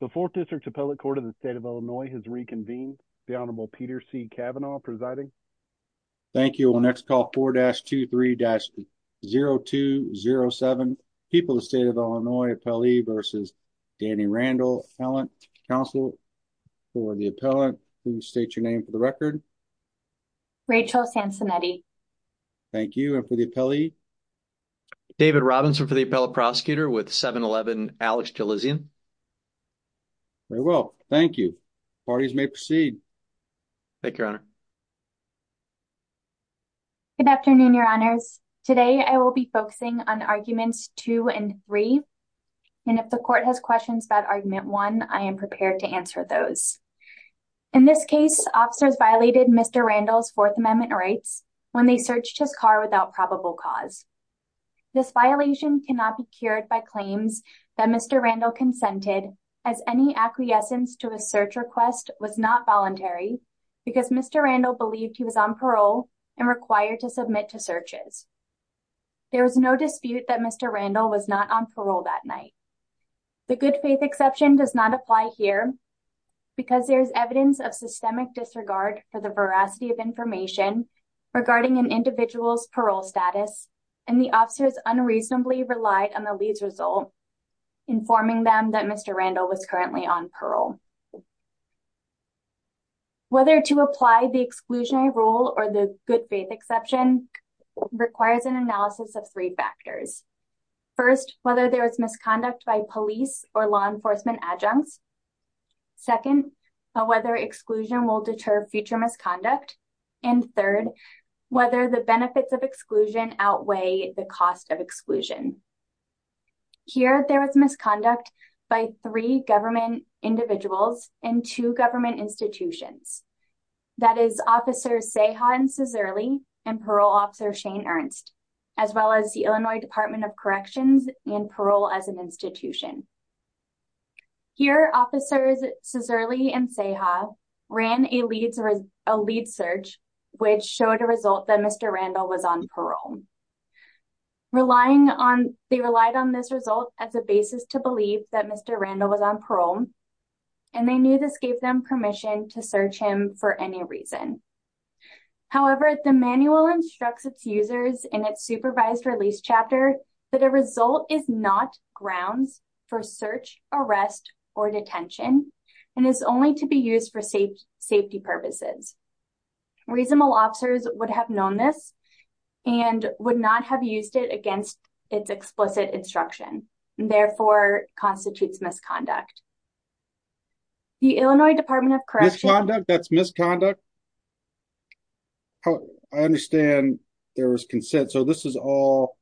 The 4th District's Appellate Court of the State of Illinois has reconvened. The Honorable Peter C. Kavanaugh presiding. Thank you. We'll next call 4-23-0207. People of the State of Illinois. Appellee versus Danny Randall. Appellant counsel for the appellant. Please state your name for the record. Rachel Sansonetti. Thank you. And for the appellee? David Robinson for the appellate prosecutor with 7-11, Alex Jelizian. Very well. Thank you. Parties may proceed. Thank you, Your Honor. Good afternoon, Your Honors. Today I will be focusing on arguments two and three. And if the court has questions about argument one, I am prepared to answer those. In this case, officers violated Mr. Randall's Fourth Amendment rights when they searched his car without probable cause. This violation cannot be cured by claims that Mr. Randall consented as any acquiescence to a search request was not voluntary because Mr. Randall believed he was on parole and required to submit to searches. There is no dispute that Mr. Randall was not on parole that night. The good faith exception does not apply here because there is evidence of disregard for the veracity of information regarding an individual's parole status and the officers unreasonably relied on the lead's result, informing them that Mr. Randall was currently on parole. Whether to apply the exclusionary rule or the good faith exception requires an analysis of three factors. First, whether there is misconduct by police or law will deter future misconduct. And third, whether the benefits of exclusion outweigh the cost of exclusion. Here, there was misconduct by three government individuals and two government institutions. That is, Officers Ceja and Cizerle, and Parole Officer Shane Ernst, as well as the Illinois Department of Corrections and Parole as an Institution. Here, Officers Cizerle and Ceja ran a lead search, which showed a result that Mr. Randall was on parole. They relied on this result as a basis to believe that Mr. Randall was on parole, and they knew this gave them permission to search him for any reason. However, the manual instructs its users in its supervised release chapter that a result is not grounds for search, arrest, or detention, and is only to be used for safety purposes. Reasonable officers would have known this and would not have used it against its explicit instruction, and therefore constitutes misconduct. The Illinois Department of Corrections... Misconduct? That's misconduct? I understand there was consent, so this is all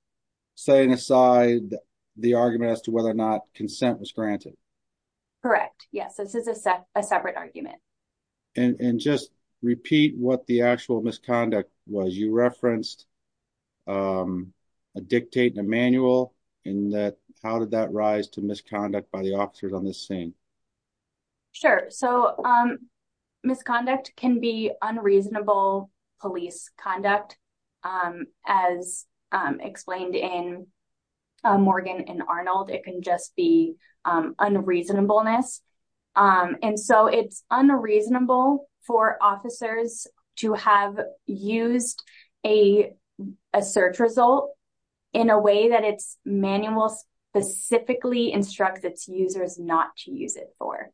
setting aside the argument as to whether or not consent was granted. Correct. Yes, this is a separate argument. And just repeat what the actual misconduct was. You referenced a dictate in a manual, and how did that rise to misconduct by the officers on this scene? Sure. So, misconduct can be unreasonable police conduct. As explained in Morgan and Arnold, it can just be unreasonableness. And so, it's unreasonable for officers to have used a search result in a way that its manual specifically instructs its users not to use it for.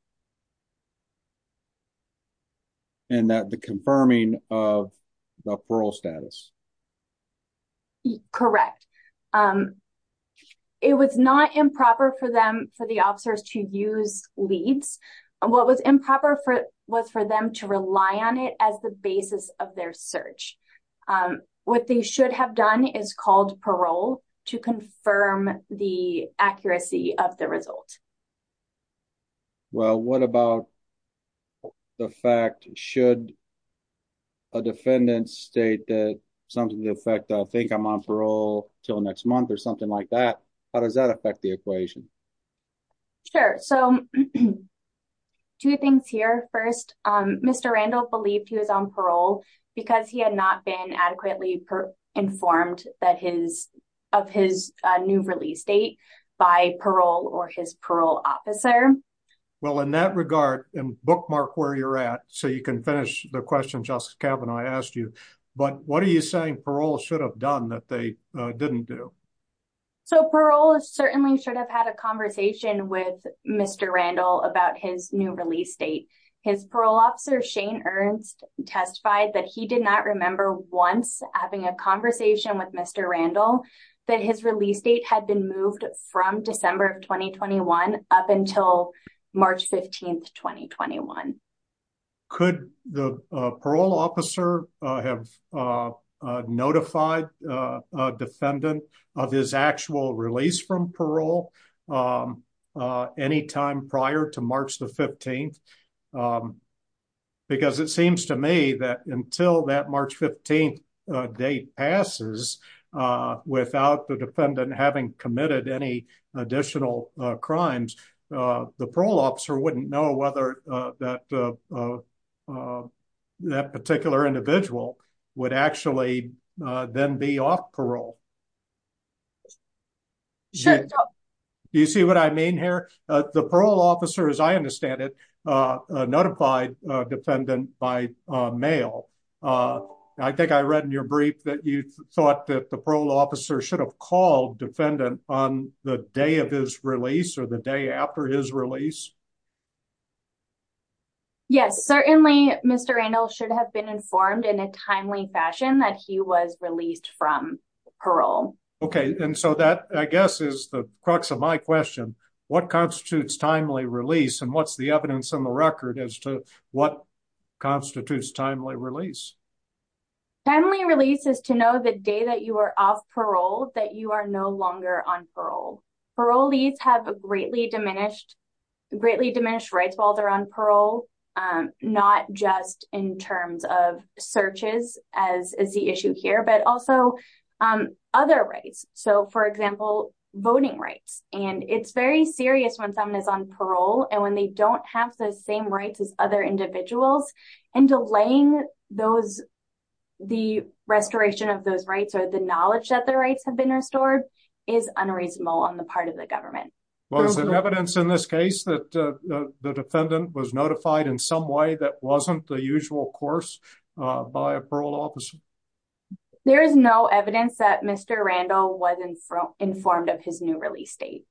And that the confirming of the parole status. Correct. It was not improper for the officers to use leads. What was improper was for them to rely on it as the basis of their search. What they should have done is called parole to confirm the accuracy of the result. Well, what about the fact, should a defendant state that something to the effect, I think I'm on parole until next month, or something like that? How does that affect the equation? Sure. So, two things here. First, Mr. Randall believed he was on parole because he had not been adequately informed of his new release date by parole or his parole officer. Well, in that regard, and bookmark where you're at, so you can finish the question Justice Kavanaugh asked you, but what are you saying parole should have done that they didn't do? So, parole certainly should have had a conversation with Mr. Randall about his new release date. His parole officer Shane Ernst testified that he did not remember once having a conversation with Mr. Randall that his release date had been moved from December of of his actual release from parole any time prior to March the 15th. Because it seems to me that until that March 15th date passes without the defendant having committed any additional crimes, the parole officer wouldn't know whether that particular individual would actually then be off parole. Do you see what I mean here? The parole officer, as I understand it, notified a defendant by mail. I think I read in your brief that you thought that the parole officer should have called defendant on the day of his release or the day after his release. Yes, certainly Mr. Randall should have been informed in a timely fashion that he was released from parole. Okay, and so that I guess is the crux of my question. What constitutes timely release and what's the evidence on the record as to what constitutes timely release? Timely release is to know the day that you are off parole that you are no longer on parole. Parolees have greatly diminished rights while they're on parole, not just in terms of searches as is the issue here, but also other rights. So, for example, voting rights. And it's very serious when someone is on parole and when they don't have the same rights as other individuals and delaying the restoration of those rights or the knowledge that the rights have been restored is unreasonable on the part of the government. Was there evidence in this case that the defendant was notified in some way that wasn't the usual course by a parole officer? There is no evidence that Mr. Randall was informed of his new release date.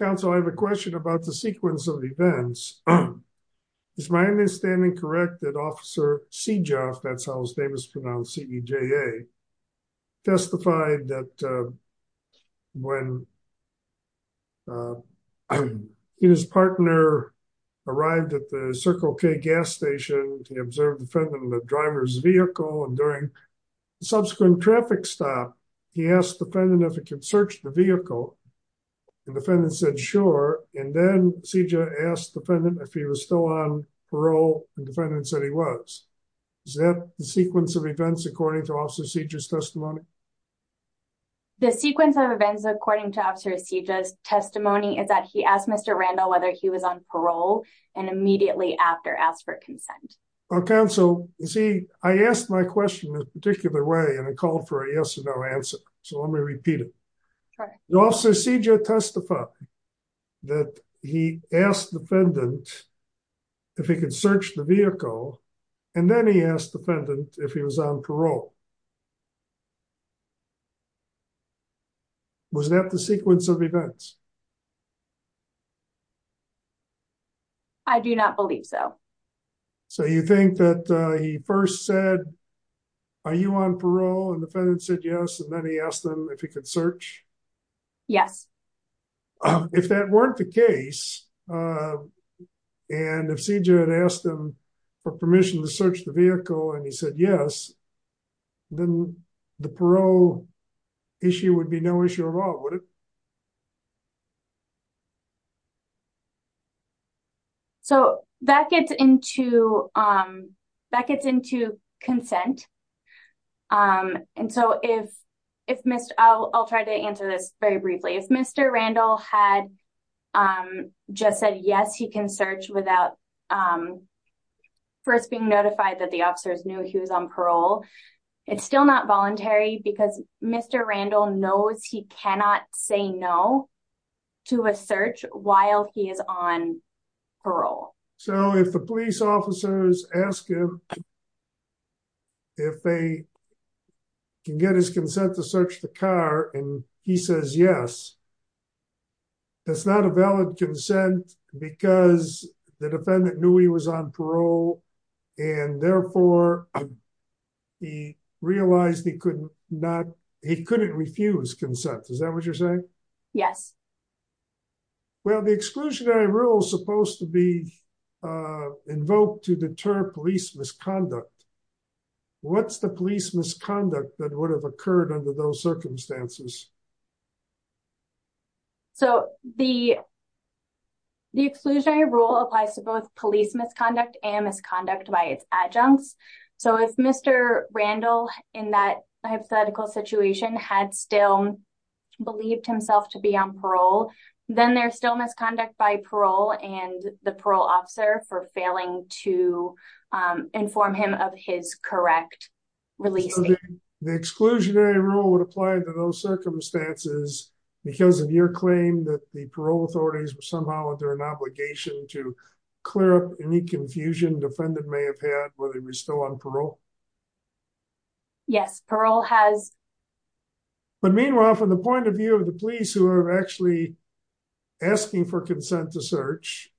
Counsel, I have a question about the sequence of events. Is my understanding correct that Officer Sejof, that's how his name is pronounced, C-E-J-A, testified that when his partner arrived at the Circle K gas station, he observed the defendant in the driver's vehicle and during the subsequent traffic stop, he asked the defendant if he could search the vehicle. The defendant said, sure. And then Sejof asked the defendant if he was on parole and the defendant said he was. Is that the sequence of events according to Officer Sejof's testimony? The sequence of events according to Officer Sejof's testimony is that he asked Mr. Randall whether he was on parole and immediately after asked for consent. Counsel, you see, I asked my question a particular way and I called for a yes or no answer. So let me repeat it. Officer Sejof testified that he asked the defendant if he could search the vehicle and then he asked the defendant if he was on parole. Was that the sequence of events? I do not believe so. So you think that he first said, are you on parole? And the defendant said yes and then he asked him if he could search? Yes. If that weren't the case and if Sejof had asked him for permission to search the vehicle and he said yes, then the parole issue would be no issue at all, would it? So that gets into consent. And so if Mr. I'll try to answer this very briefly. If Mr. Randall had just said yes, he can search without first being notified that the officers knew he was on parole. It's still not voluntary because Mr. Randall knows he cannot say no to a search while he is on parole. So if the police officers ask him if they can get his consent to search the car and he says yes, that's not a valid consent because the defendant knew he was on parole and therefore he realized he couldn't refuse consent. Is that what you're saying? Yes. Well, the exclusionary rule is supposed to be invoked to deter police misconduct. What's the police misconduct that would have occurred under those circumstances? So the exclusionary rule applies to both police misconduct and misconduct by its adjuncts. So if Mr. Randall in that hypothetical situation had still believed himself to be on parole, then there's still misconduct by parole and the parole officer for failing to inform him of his correct release. The exclusionary rule would apply to those circumstances because of your claim that the parole authorities were somehow under an obligation to clear up any confusion defendant may have had whether he was still on parole? Yes, parole has. But meanwhile, from the point of view of the police who are actually asking for consent to search,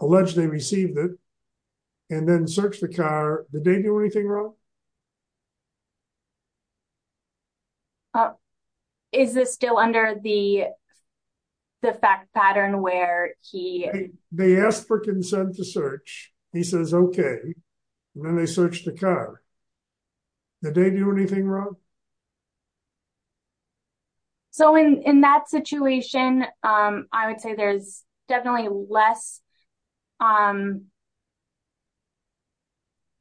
allegedly received it, and then searched the car, did they do anything wrong? Oh, is this still under the fact pattern where he... They asked for consent to search, he says okay, and then they searched the car. Did they do anything wrong? So in that situation, I would say there's definitely less...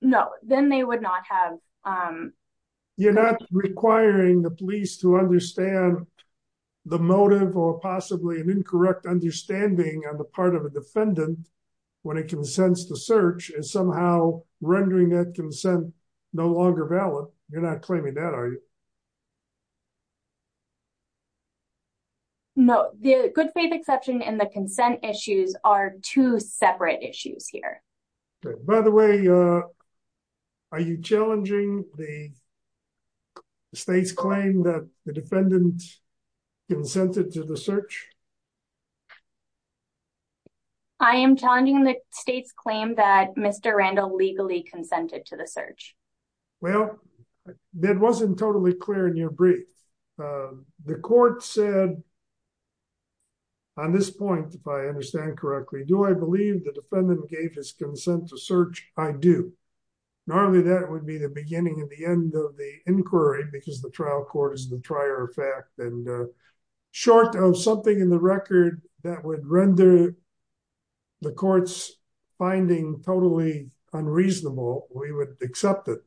No, then they would not have... You're not requiring the police to understand the motive or possibly an incorrect understanding on the part of a defendant when it consents to search is somehow rendering that consent no longer valid. You're not claiming that, are you? No, the good faith exception and the consent issues are two separate issues here. By the way, are you challenging the state's claim that the defendant consented to the search? I am challenging the state's claim that Mr. Randall legally consented to the search. Well, that wasn't totally clear in your brief. The court said, on this point, if I understand correctly, do I believe the defendant gave his consent to search? I do. Normally, that would be the beginning and the end of the inquiry because the trial court is the trier of fact. And short of something in the record that would render the court's finding totally unreasonable, we would accept it.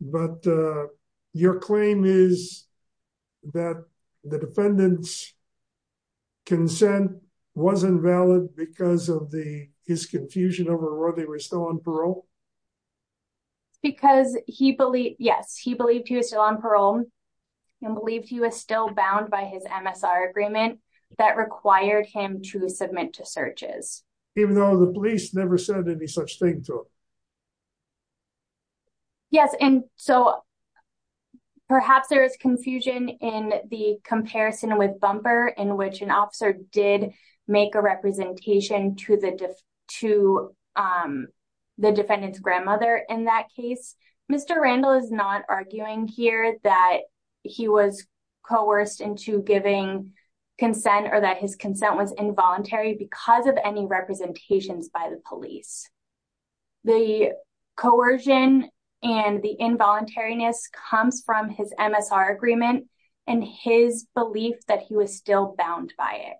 But your claim is that the defendant's consent wasn't valid because of his confusion over whether they were still on parole? Because he believed... Yes, he believed he was still on parole and believed he was still bound by his MSR agreement that required him to submit to searches. Even though the police never said any such thing to him? Yes. And so, perhaps there is confusion in the comparison with Bumper in which an officer did make a representation to the defendant's grandmother in that case. Mr. Randall is not arguing here that he was coerced into giving consent or that his consent was involuntary because of any representations by the police. The coercion and the involuntariness comes from his MSR agreement and his belief that he was still bound by it.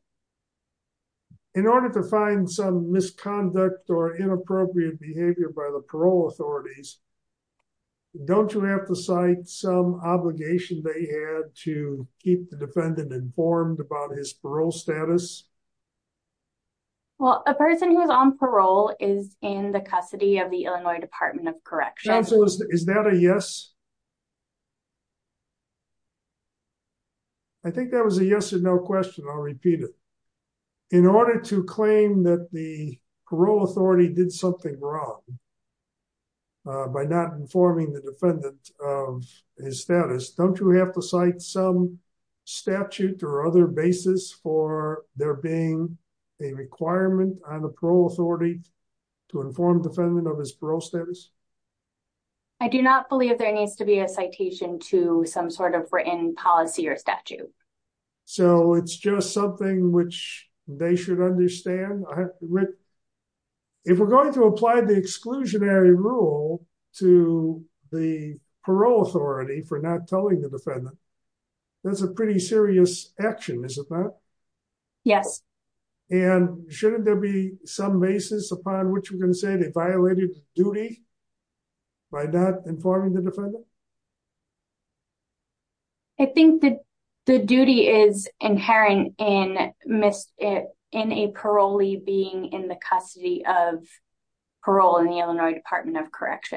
In order to find some misconduct or inappropriate behavior by the parole authorities, don't you have to cite some obligation they had to keep the defendant informed about his parole status? Well, a person who is on parole is in the custody of the Illinois Department of Correction. Chancellor, is that a yes? I think that was a yes or no question. I'll repeat it. In order to claim that the parole authority did something wrong by not informing the defendant of his status, don't you have to statute or other basis for there being a requirement on the parole authority to inform the defendant of his parole status? I do not believe there needs to be a citation to some sort of written policy or statute. So, it's just something which they should understand. If we're going to apply the exclusionary rule to the parole authority for not telling the defendant, that's a pretty serious action, is it not? Yes. And shouldn't there be some basis upon which we're going to say they violated duty by not informing the defendant? I think that the duty is inherent in a parolee being in the custody of the defendant. I don't think that there should be a statute or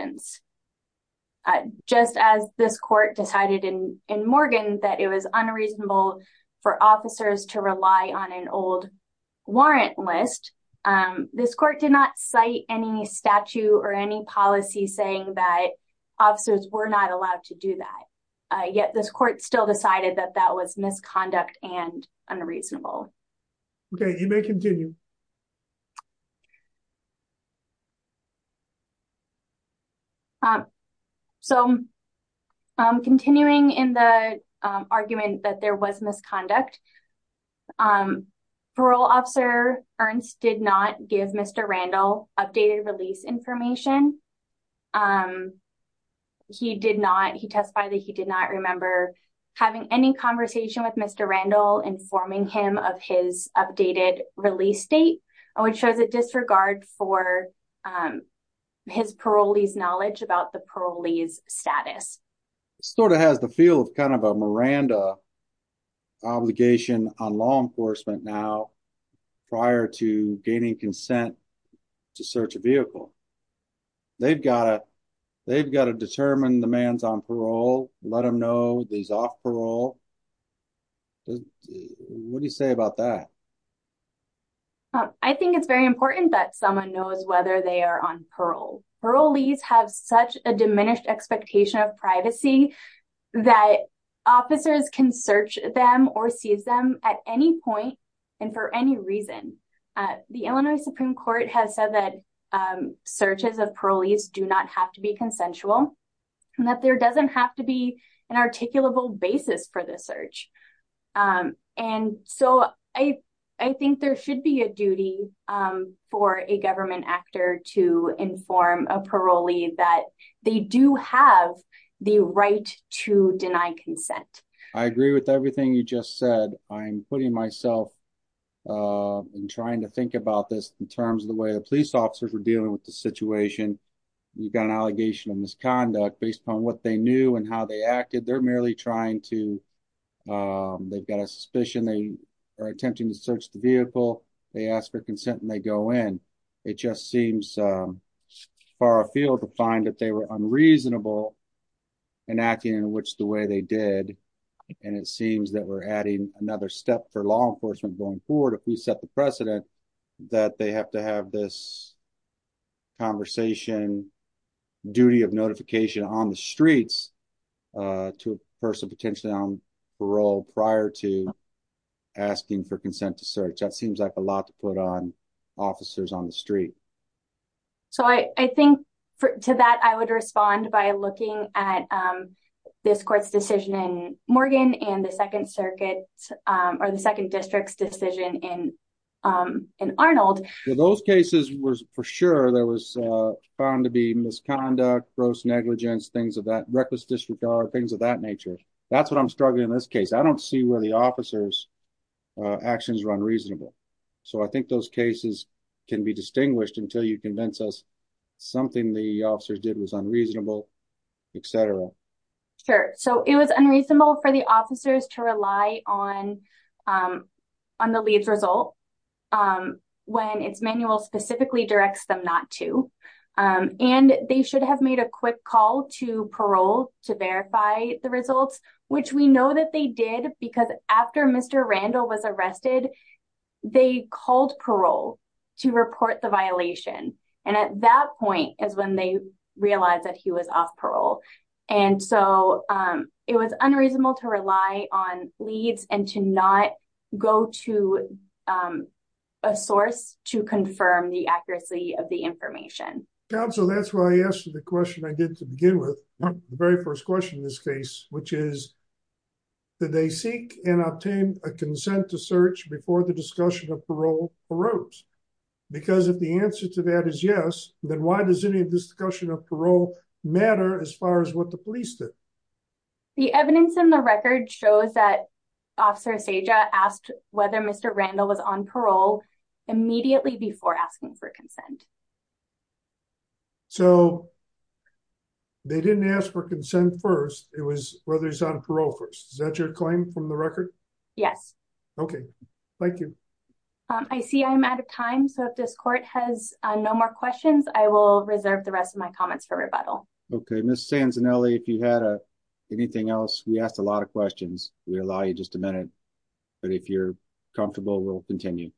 any policy saying that officers were not allowed to do that. Yet, this court still decided that that was misconduct and argued that there was misconduct. Parole officer Ernst did not give Mr. Randall updated release information. He testified that he did not remember having any conversation with Mr. Randall informing him of his updated release date, which shows a disregard for his parolee's status. It sort of has the feel of kind of a Miranda obligation on law enforcement now prior to gaining consent to search a vehicle. They've got to determine the man's on parole, let them know he's off parole. What do you say about that? I think it's very important that someone knows whether they are on parole. Parolees have such diminished expectation of privacy that officers can search them or seize them at any point and for any reason. The Illinois Supreme Court has said that searches of parolees do not have to be consensual and that there doesn't have to be an articulable basis for the search. I think there should be a duty for a government actor to inform a parolee that they do have the right to deny consent. I agree with everything you just said. I'm putting myself in trying to think about this in terms of the way the police officers were dealing with the situation. You've got an allegation of misconduct based on what they knew and how they acted. They're trying to, they've got a suspicion, they are attempting to search the vehicle, they ask for consent and they go in. It just seems far afield to find that they were unreasonable in acting in which the way they did and it seems that we're adding another step for law enforcement going forward. If we set the precedent that they have to have this conversation, duty of notification on the streets to a person potentially on parole prior to asking for consent to search, that seems like a lot to put on officers on the street. So I think to that I would respond by looking at this court's decision in Morgan and the found to be misconduct, gross negligence, things of that reckless disregard, things of that nature. That's what I'm struggling in this case. I don't see where the officer's actions are unreasonable. So I think those cases can be distinguished until you convince us something the officers did was unreasonable, etc. Sure. So it was unreasonable for the officers to and they should have made a quick call to parole to verify the results, which we know that they did because after Mr. Randall was arrested, they called parole to report the violation. And at that point is when they realized that he was off parole. And so it was unreasonable to rely on information. So that's why I asked you the question I did to begin with the very first question in this case, which is that they seek and obtain a consent to search before the discussion of parole arose. Because if the answer to that is yes, then why does any discussion of parole matter as far as what the police did? The evidence in the record shows that asked whether Mr. Randall was on parole immediately before asking for consent. So they didn't ask for consent first. It was whether he's on parole first. Is that your claim from the record? Yes. Okay. Thank you. I see I'm out of time. So if this court has no more questions, I will reserve the rest of my comments for rebuttal. Okay. Ms. Sansonelli, if you had anything else, we asked a lot of questions. We allow you just a minute. But if you're comfortable, we'll continue.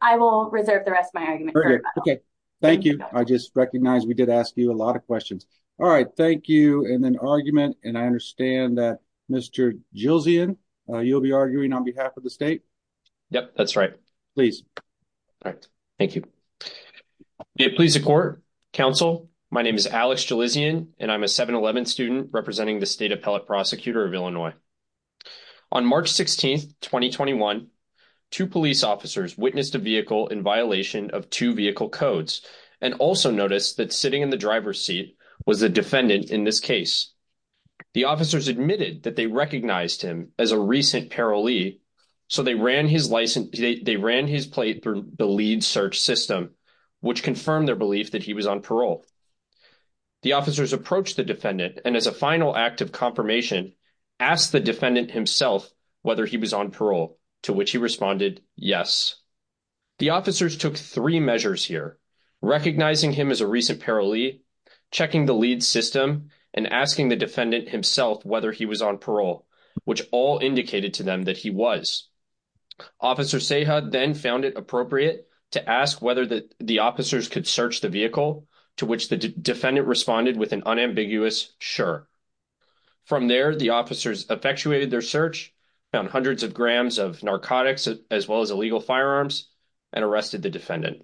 I will reserve the rest of my argument. Okay. Thank you. I just recognize we did ask you a lot of questions. All right. Thank you. And then argument. And I understand that Mr. Gilsian, you'll be arguing on behalf of the state. Yep, that's right. Please. All right. Thank you. May it please the court. Counsel, my name is Alex Gilsian, and I'm a 7-11 student representing the State Appellate Prosecutor of Illinois. On March 16, 2021, two police officers witnessed a vehicle in violation of two vehicle codes and also noticed that sitting in the driver's seat was the defendant in this case. The officers admitted that they recognized him as a recent parolee. So they ran his license. They ran his plate through the lead search system, which confirmed their belief that he was on parole. The officers approached the defendant and as a final act of confirmation, asked the defendant himself whether he was on parole, to which he responded, yes. The officers took three measures here, recognizing him as a recent parolee, checking the lead system, and asking the defendant himself whether he was on parole, which all indicated to them that he was. Officer Seha then found it appropriate to ask whether the officers could search the vehicle, to which the defendant responded with an unambiguous, sure. From there, the officers effectuated their search, found hundreds of grams of narcotics, as well as illegal firearms, and arrested the defendant.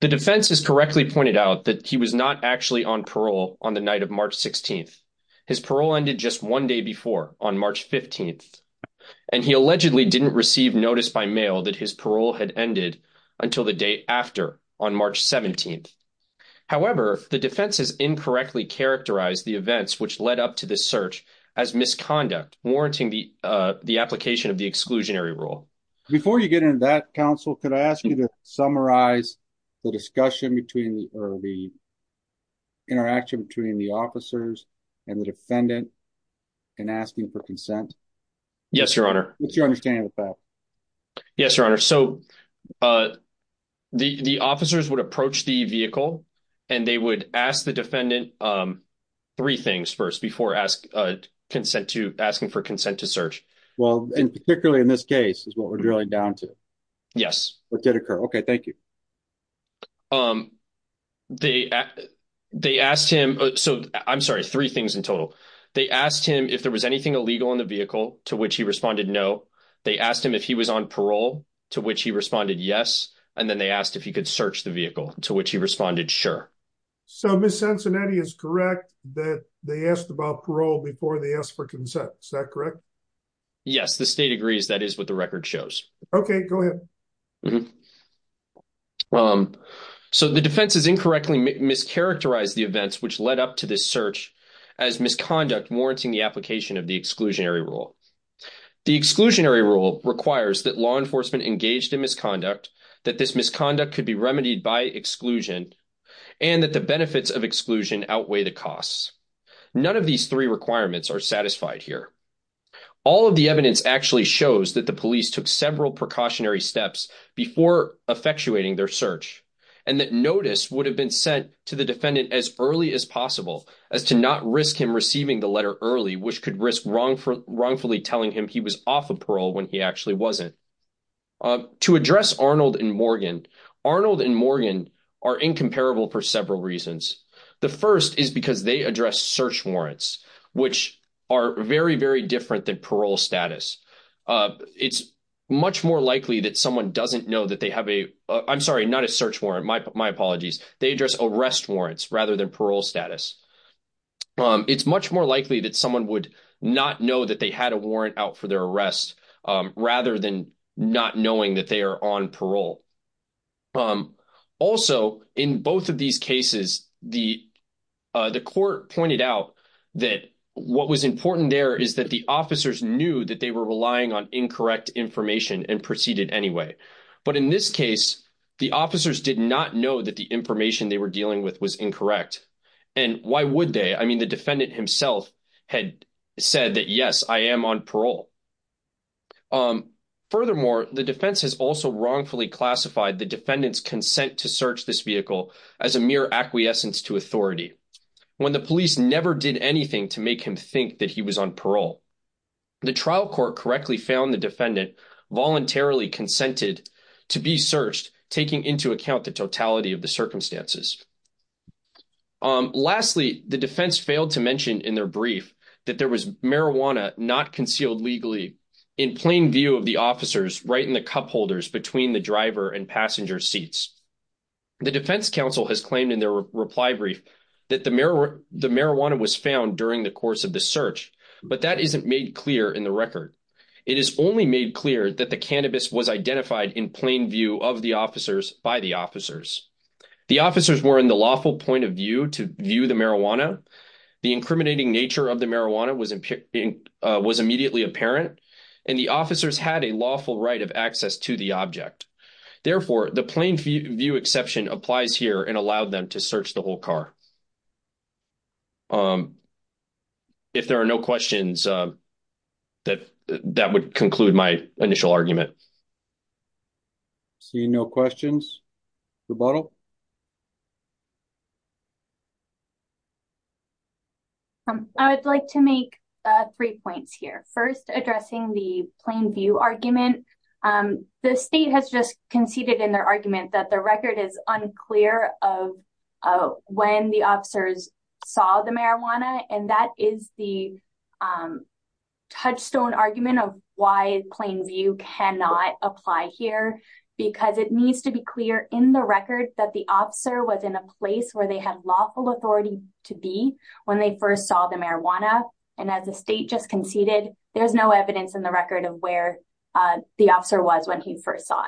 The defense has correctly pointed out that he was not actually on parole on the night of March 16th. His parole ended just one day before, on March 15th, and he allegedly didn't receive notice by mail that his parole had ended until the day after, on March 17th. However, the defense has incorrectly characterized the events which led up to the search as misconduct, warranting the application of the exclusionary rule. Before you get into that, counsel, could I ask you to summarize the interaction between the officers and the defendant in asking for consent? Yes, your honor. What's your understanding of that? Yes, your honor. So, the officers would approach the vehicle, and they would ask the defendant three things first, before asking for consent to search. Well, and particularly in this case, what we're drilling down to. Yes. What did occur? Okay, thank you. They asked him, so I'm sorry, three things in total. They asked him if there was anything illegal in the vehicle, to which he responded no. They asked him if he was on parole, to which he responded yes, and then they asked if he could search the vehicle, to which he responded sure. So, Ms. Cincinnati is correct that they asked about parole before they asked for consent, is that correct? Yes, the state agrees that is what the record shows. Okay, go ahead. So, the defense has incorrectly mischaracterized the events which led up to this search as misconduct, warranting the application of the exclusionary rule. The exclusionary rule requires that law enforcement engaged in misconduct, that this misconduct could be remedied by exclusion, and that the benefits of exclusion outweigh the costs. None of these three requirements are satisfied here. All of the evidence actually shows that the police took several precautionary steps before effectuating their search, and that notice would have been sent to the defendant as early as possible, as to not risk him receiving the letter early, which could risk wrongfully telling him he was off of parole when he actually wasn't. To address Arnold and Morgan, Arnold and Morgan are incomparable for several reasons. The first is because they address search warrants, which are very, very different than parole status. It's much more likely that someone doesn't know that they have a, I'm sorry, not a search warrant, my apologies. They address arrest warrants rather than parole status. It's much more likely that someone would not know that they had a warrant out for their arrest, rather than not knowing that they are on parole. Also, in both of these cases, the court pointed out that what was important there is that the officers knew that they were relying on incorrect information and proceeded anyway. But in this case, the officers did not know that the information they were dealing with was incorrect. And why would they? I mean, the defendant himself had said that, yes, I am on parole. Furthermore, the defense has also wrongfully classified the defendant's consent to search this vehicle as a mere acquiescence to authority, when the police never did anything to make him think that he was on parole. The trial court correctly found the defendant voluntarily consented to be searched, taking into account the totality of the circumstances. Lastly, the defense failed to mention in their brief that there was marijuana not concealed legally in plain view of the officers right in the cupholders between the driver and passenger seats. The defense counsel has claimed in their reply brief that the marijuana was found during the course of the search, but that isn't made clear in the record. It is only made clear that the cannabis was identified in plain view of the officers by the officers. The officers did not know that the marijuana was concealed. The officers were in the lawful point of view to view the marijuana. The incriminating nature of the marijuana was immediately apparent, and the officers had a lawful right of access to the object. Therefore, the plain view exception applies here and allowed them to search the whole car. If there are no questions, that would conclude my initial argument. I would like to make three points here. First, addressing the plain view argument. The state has just conceded in their argument that the record is unclear of when the officers saw the marijuana. That is the touchstone argument of why plain view cannot apply here because it needs to be clear in the record that the officer was in a place where they had lawful authority to be when they first saw the marijuana. As the state just conceded, there's no evidence in the record of where the officer was when he first saw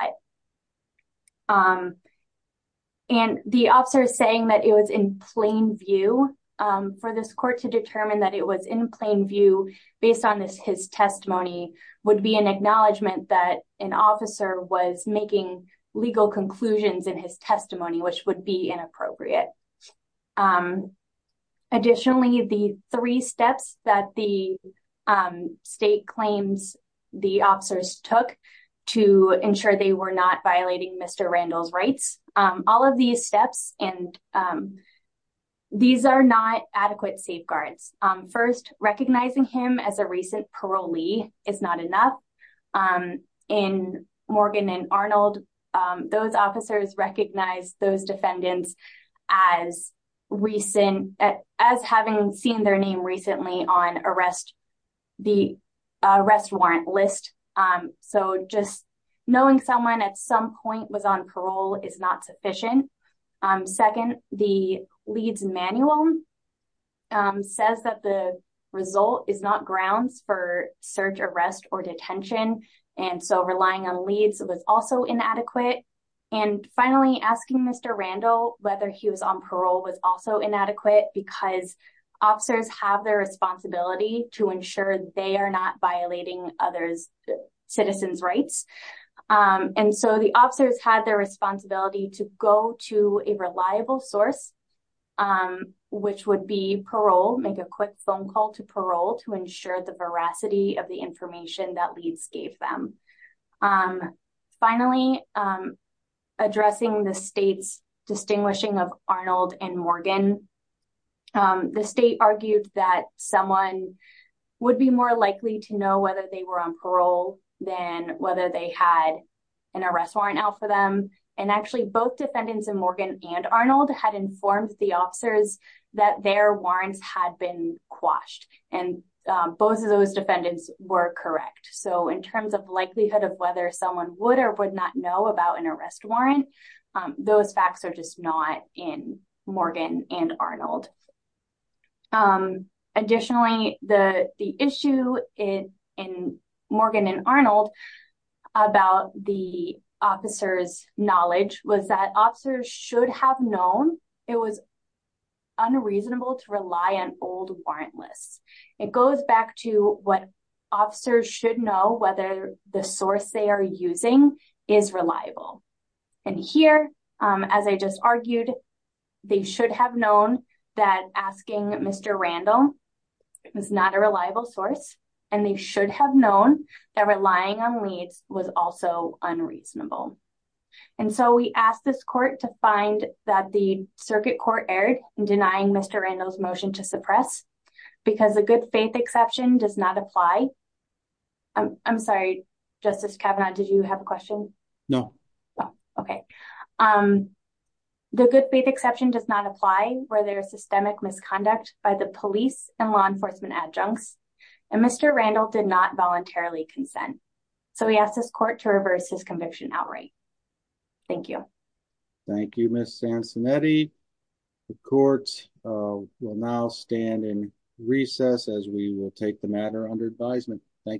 it. The officer is saying that it was in plain view. For this court to determine that it was in plain view based on his testimony would be an acknowledgment that an officer was making legal conclusions in his testimony, which would be inappropriate. Additionally, the three steps that the state claims the officers took to ensure they were not violating Mr. Randall's rights, all of these steps, these are not adequate safeguards. First, recognizing him as a recent parolee is not enough. In Morgan and Arnold, those officers recognize those defendants as having seen their name recently on the arrest warrant list. Knowing someone at some point was on parole is not sufficient. Second, the Leeds manual says that the result is not grounds for search, arrest, or detention. Relying on Leeds was also inadequate. Finally, asking Mr. Randall he was on parole was also inadequate because officers have the responsibility to ensure they are not violating other citizens' rights. The officers had the responsibility to go to a reliable source, which would be parole, make a quick phone call to parole to ensure the veracity of the information that Leeds gave them. Finally, addressing the state's distinguishing of Arnold and Morgan, the state argued that someone would be more likely to know whether they were on parole than whether they had an arrest warrant out for them. Actually, both defendants in Morgan and Arnold were correct. In terms of likelihood of whether someone would or would not know about an arrest warrant, those facts are just not in Morgan and Arnold. Additionally, the issue in Morgan and Arnold about the officers' knowledge was that officers should have known it was unreasonable to rely on old warrant lists. It goes back to what officers should know whether the source they are using is reliable. Here, as I just argued, they should have known that asking Mr. Randall is not a reliable source, and they should have known that relying on Leeds was also unreasonable. So, we asked this court to find that the circuit court erred in denying Mr. Randall's motion to suppress because the good faith exception does not apply where there is systemic misconduct by the police and law enforcement adjuncts, and Mr. Randall did not voluntarily consent. So, we asked this court to reverse his conviction outright. Thank you. Thank you, Ms. Sansonetti. The court will now stand in recess as we will take the matter under advisement. Thank you.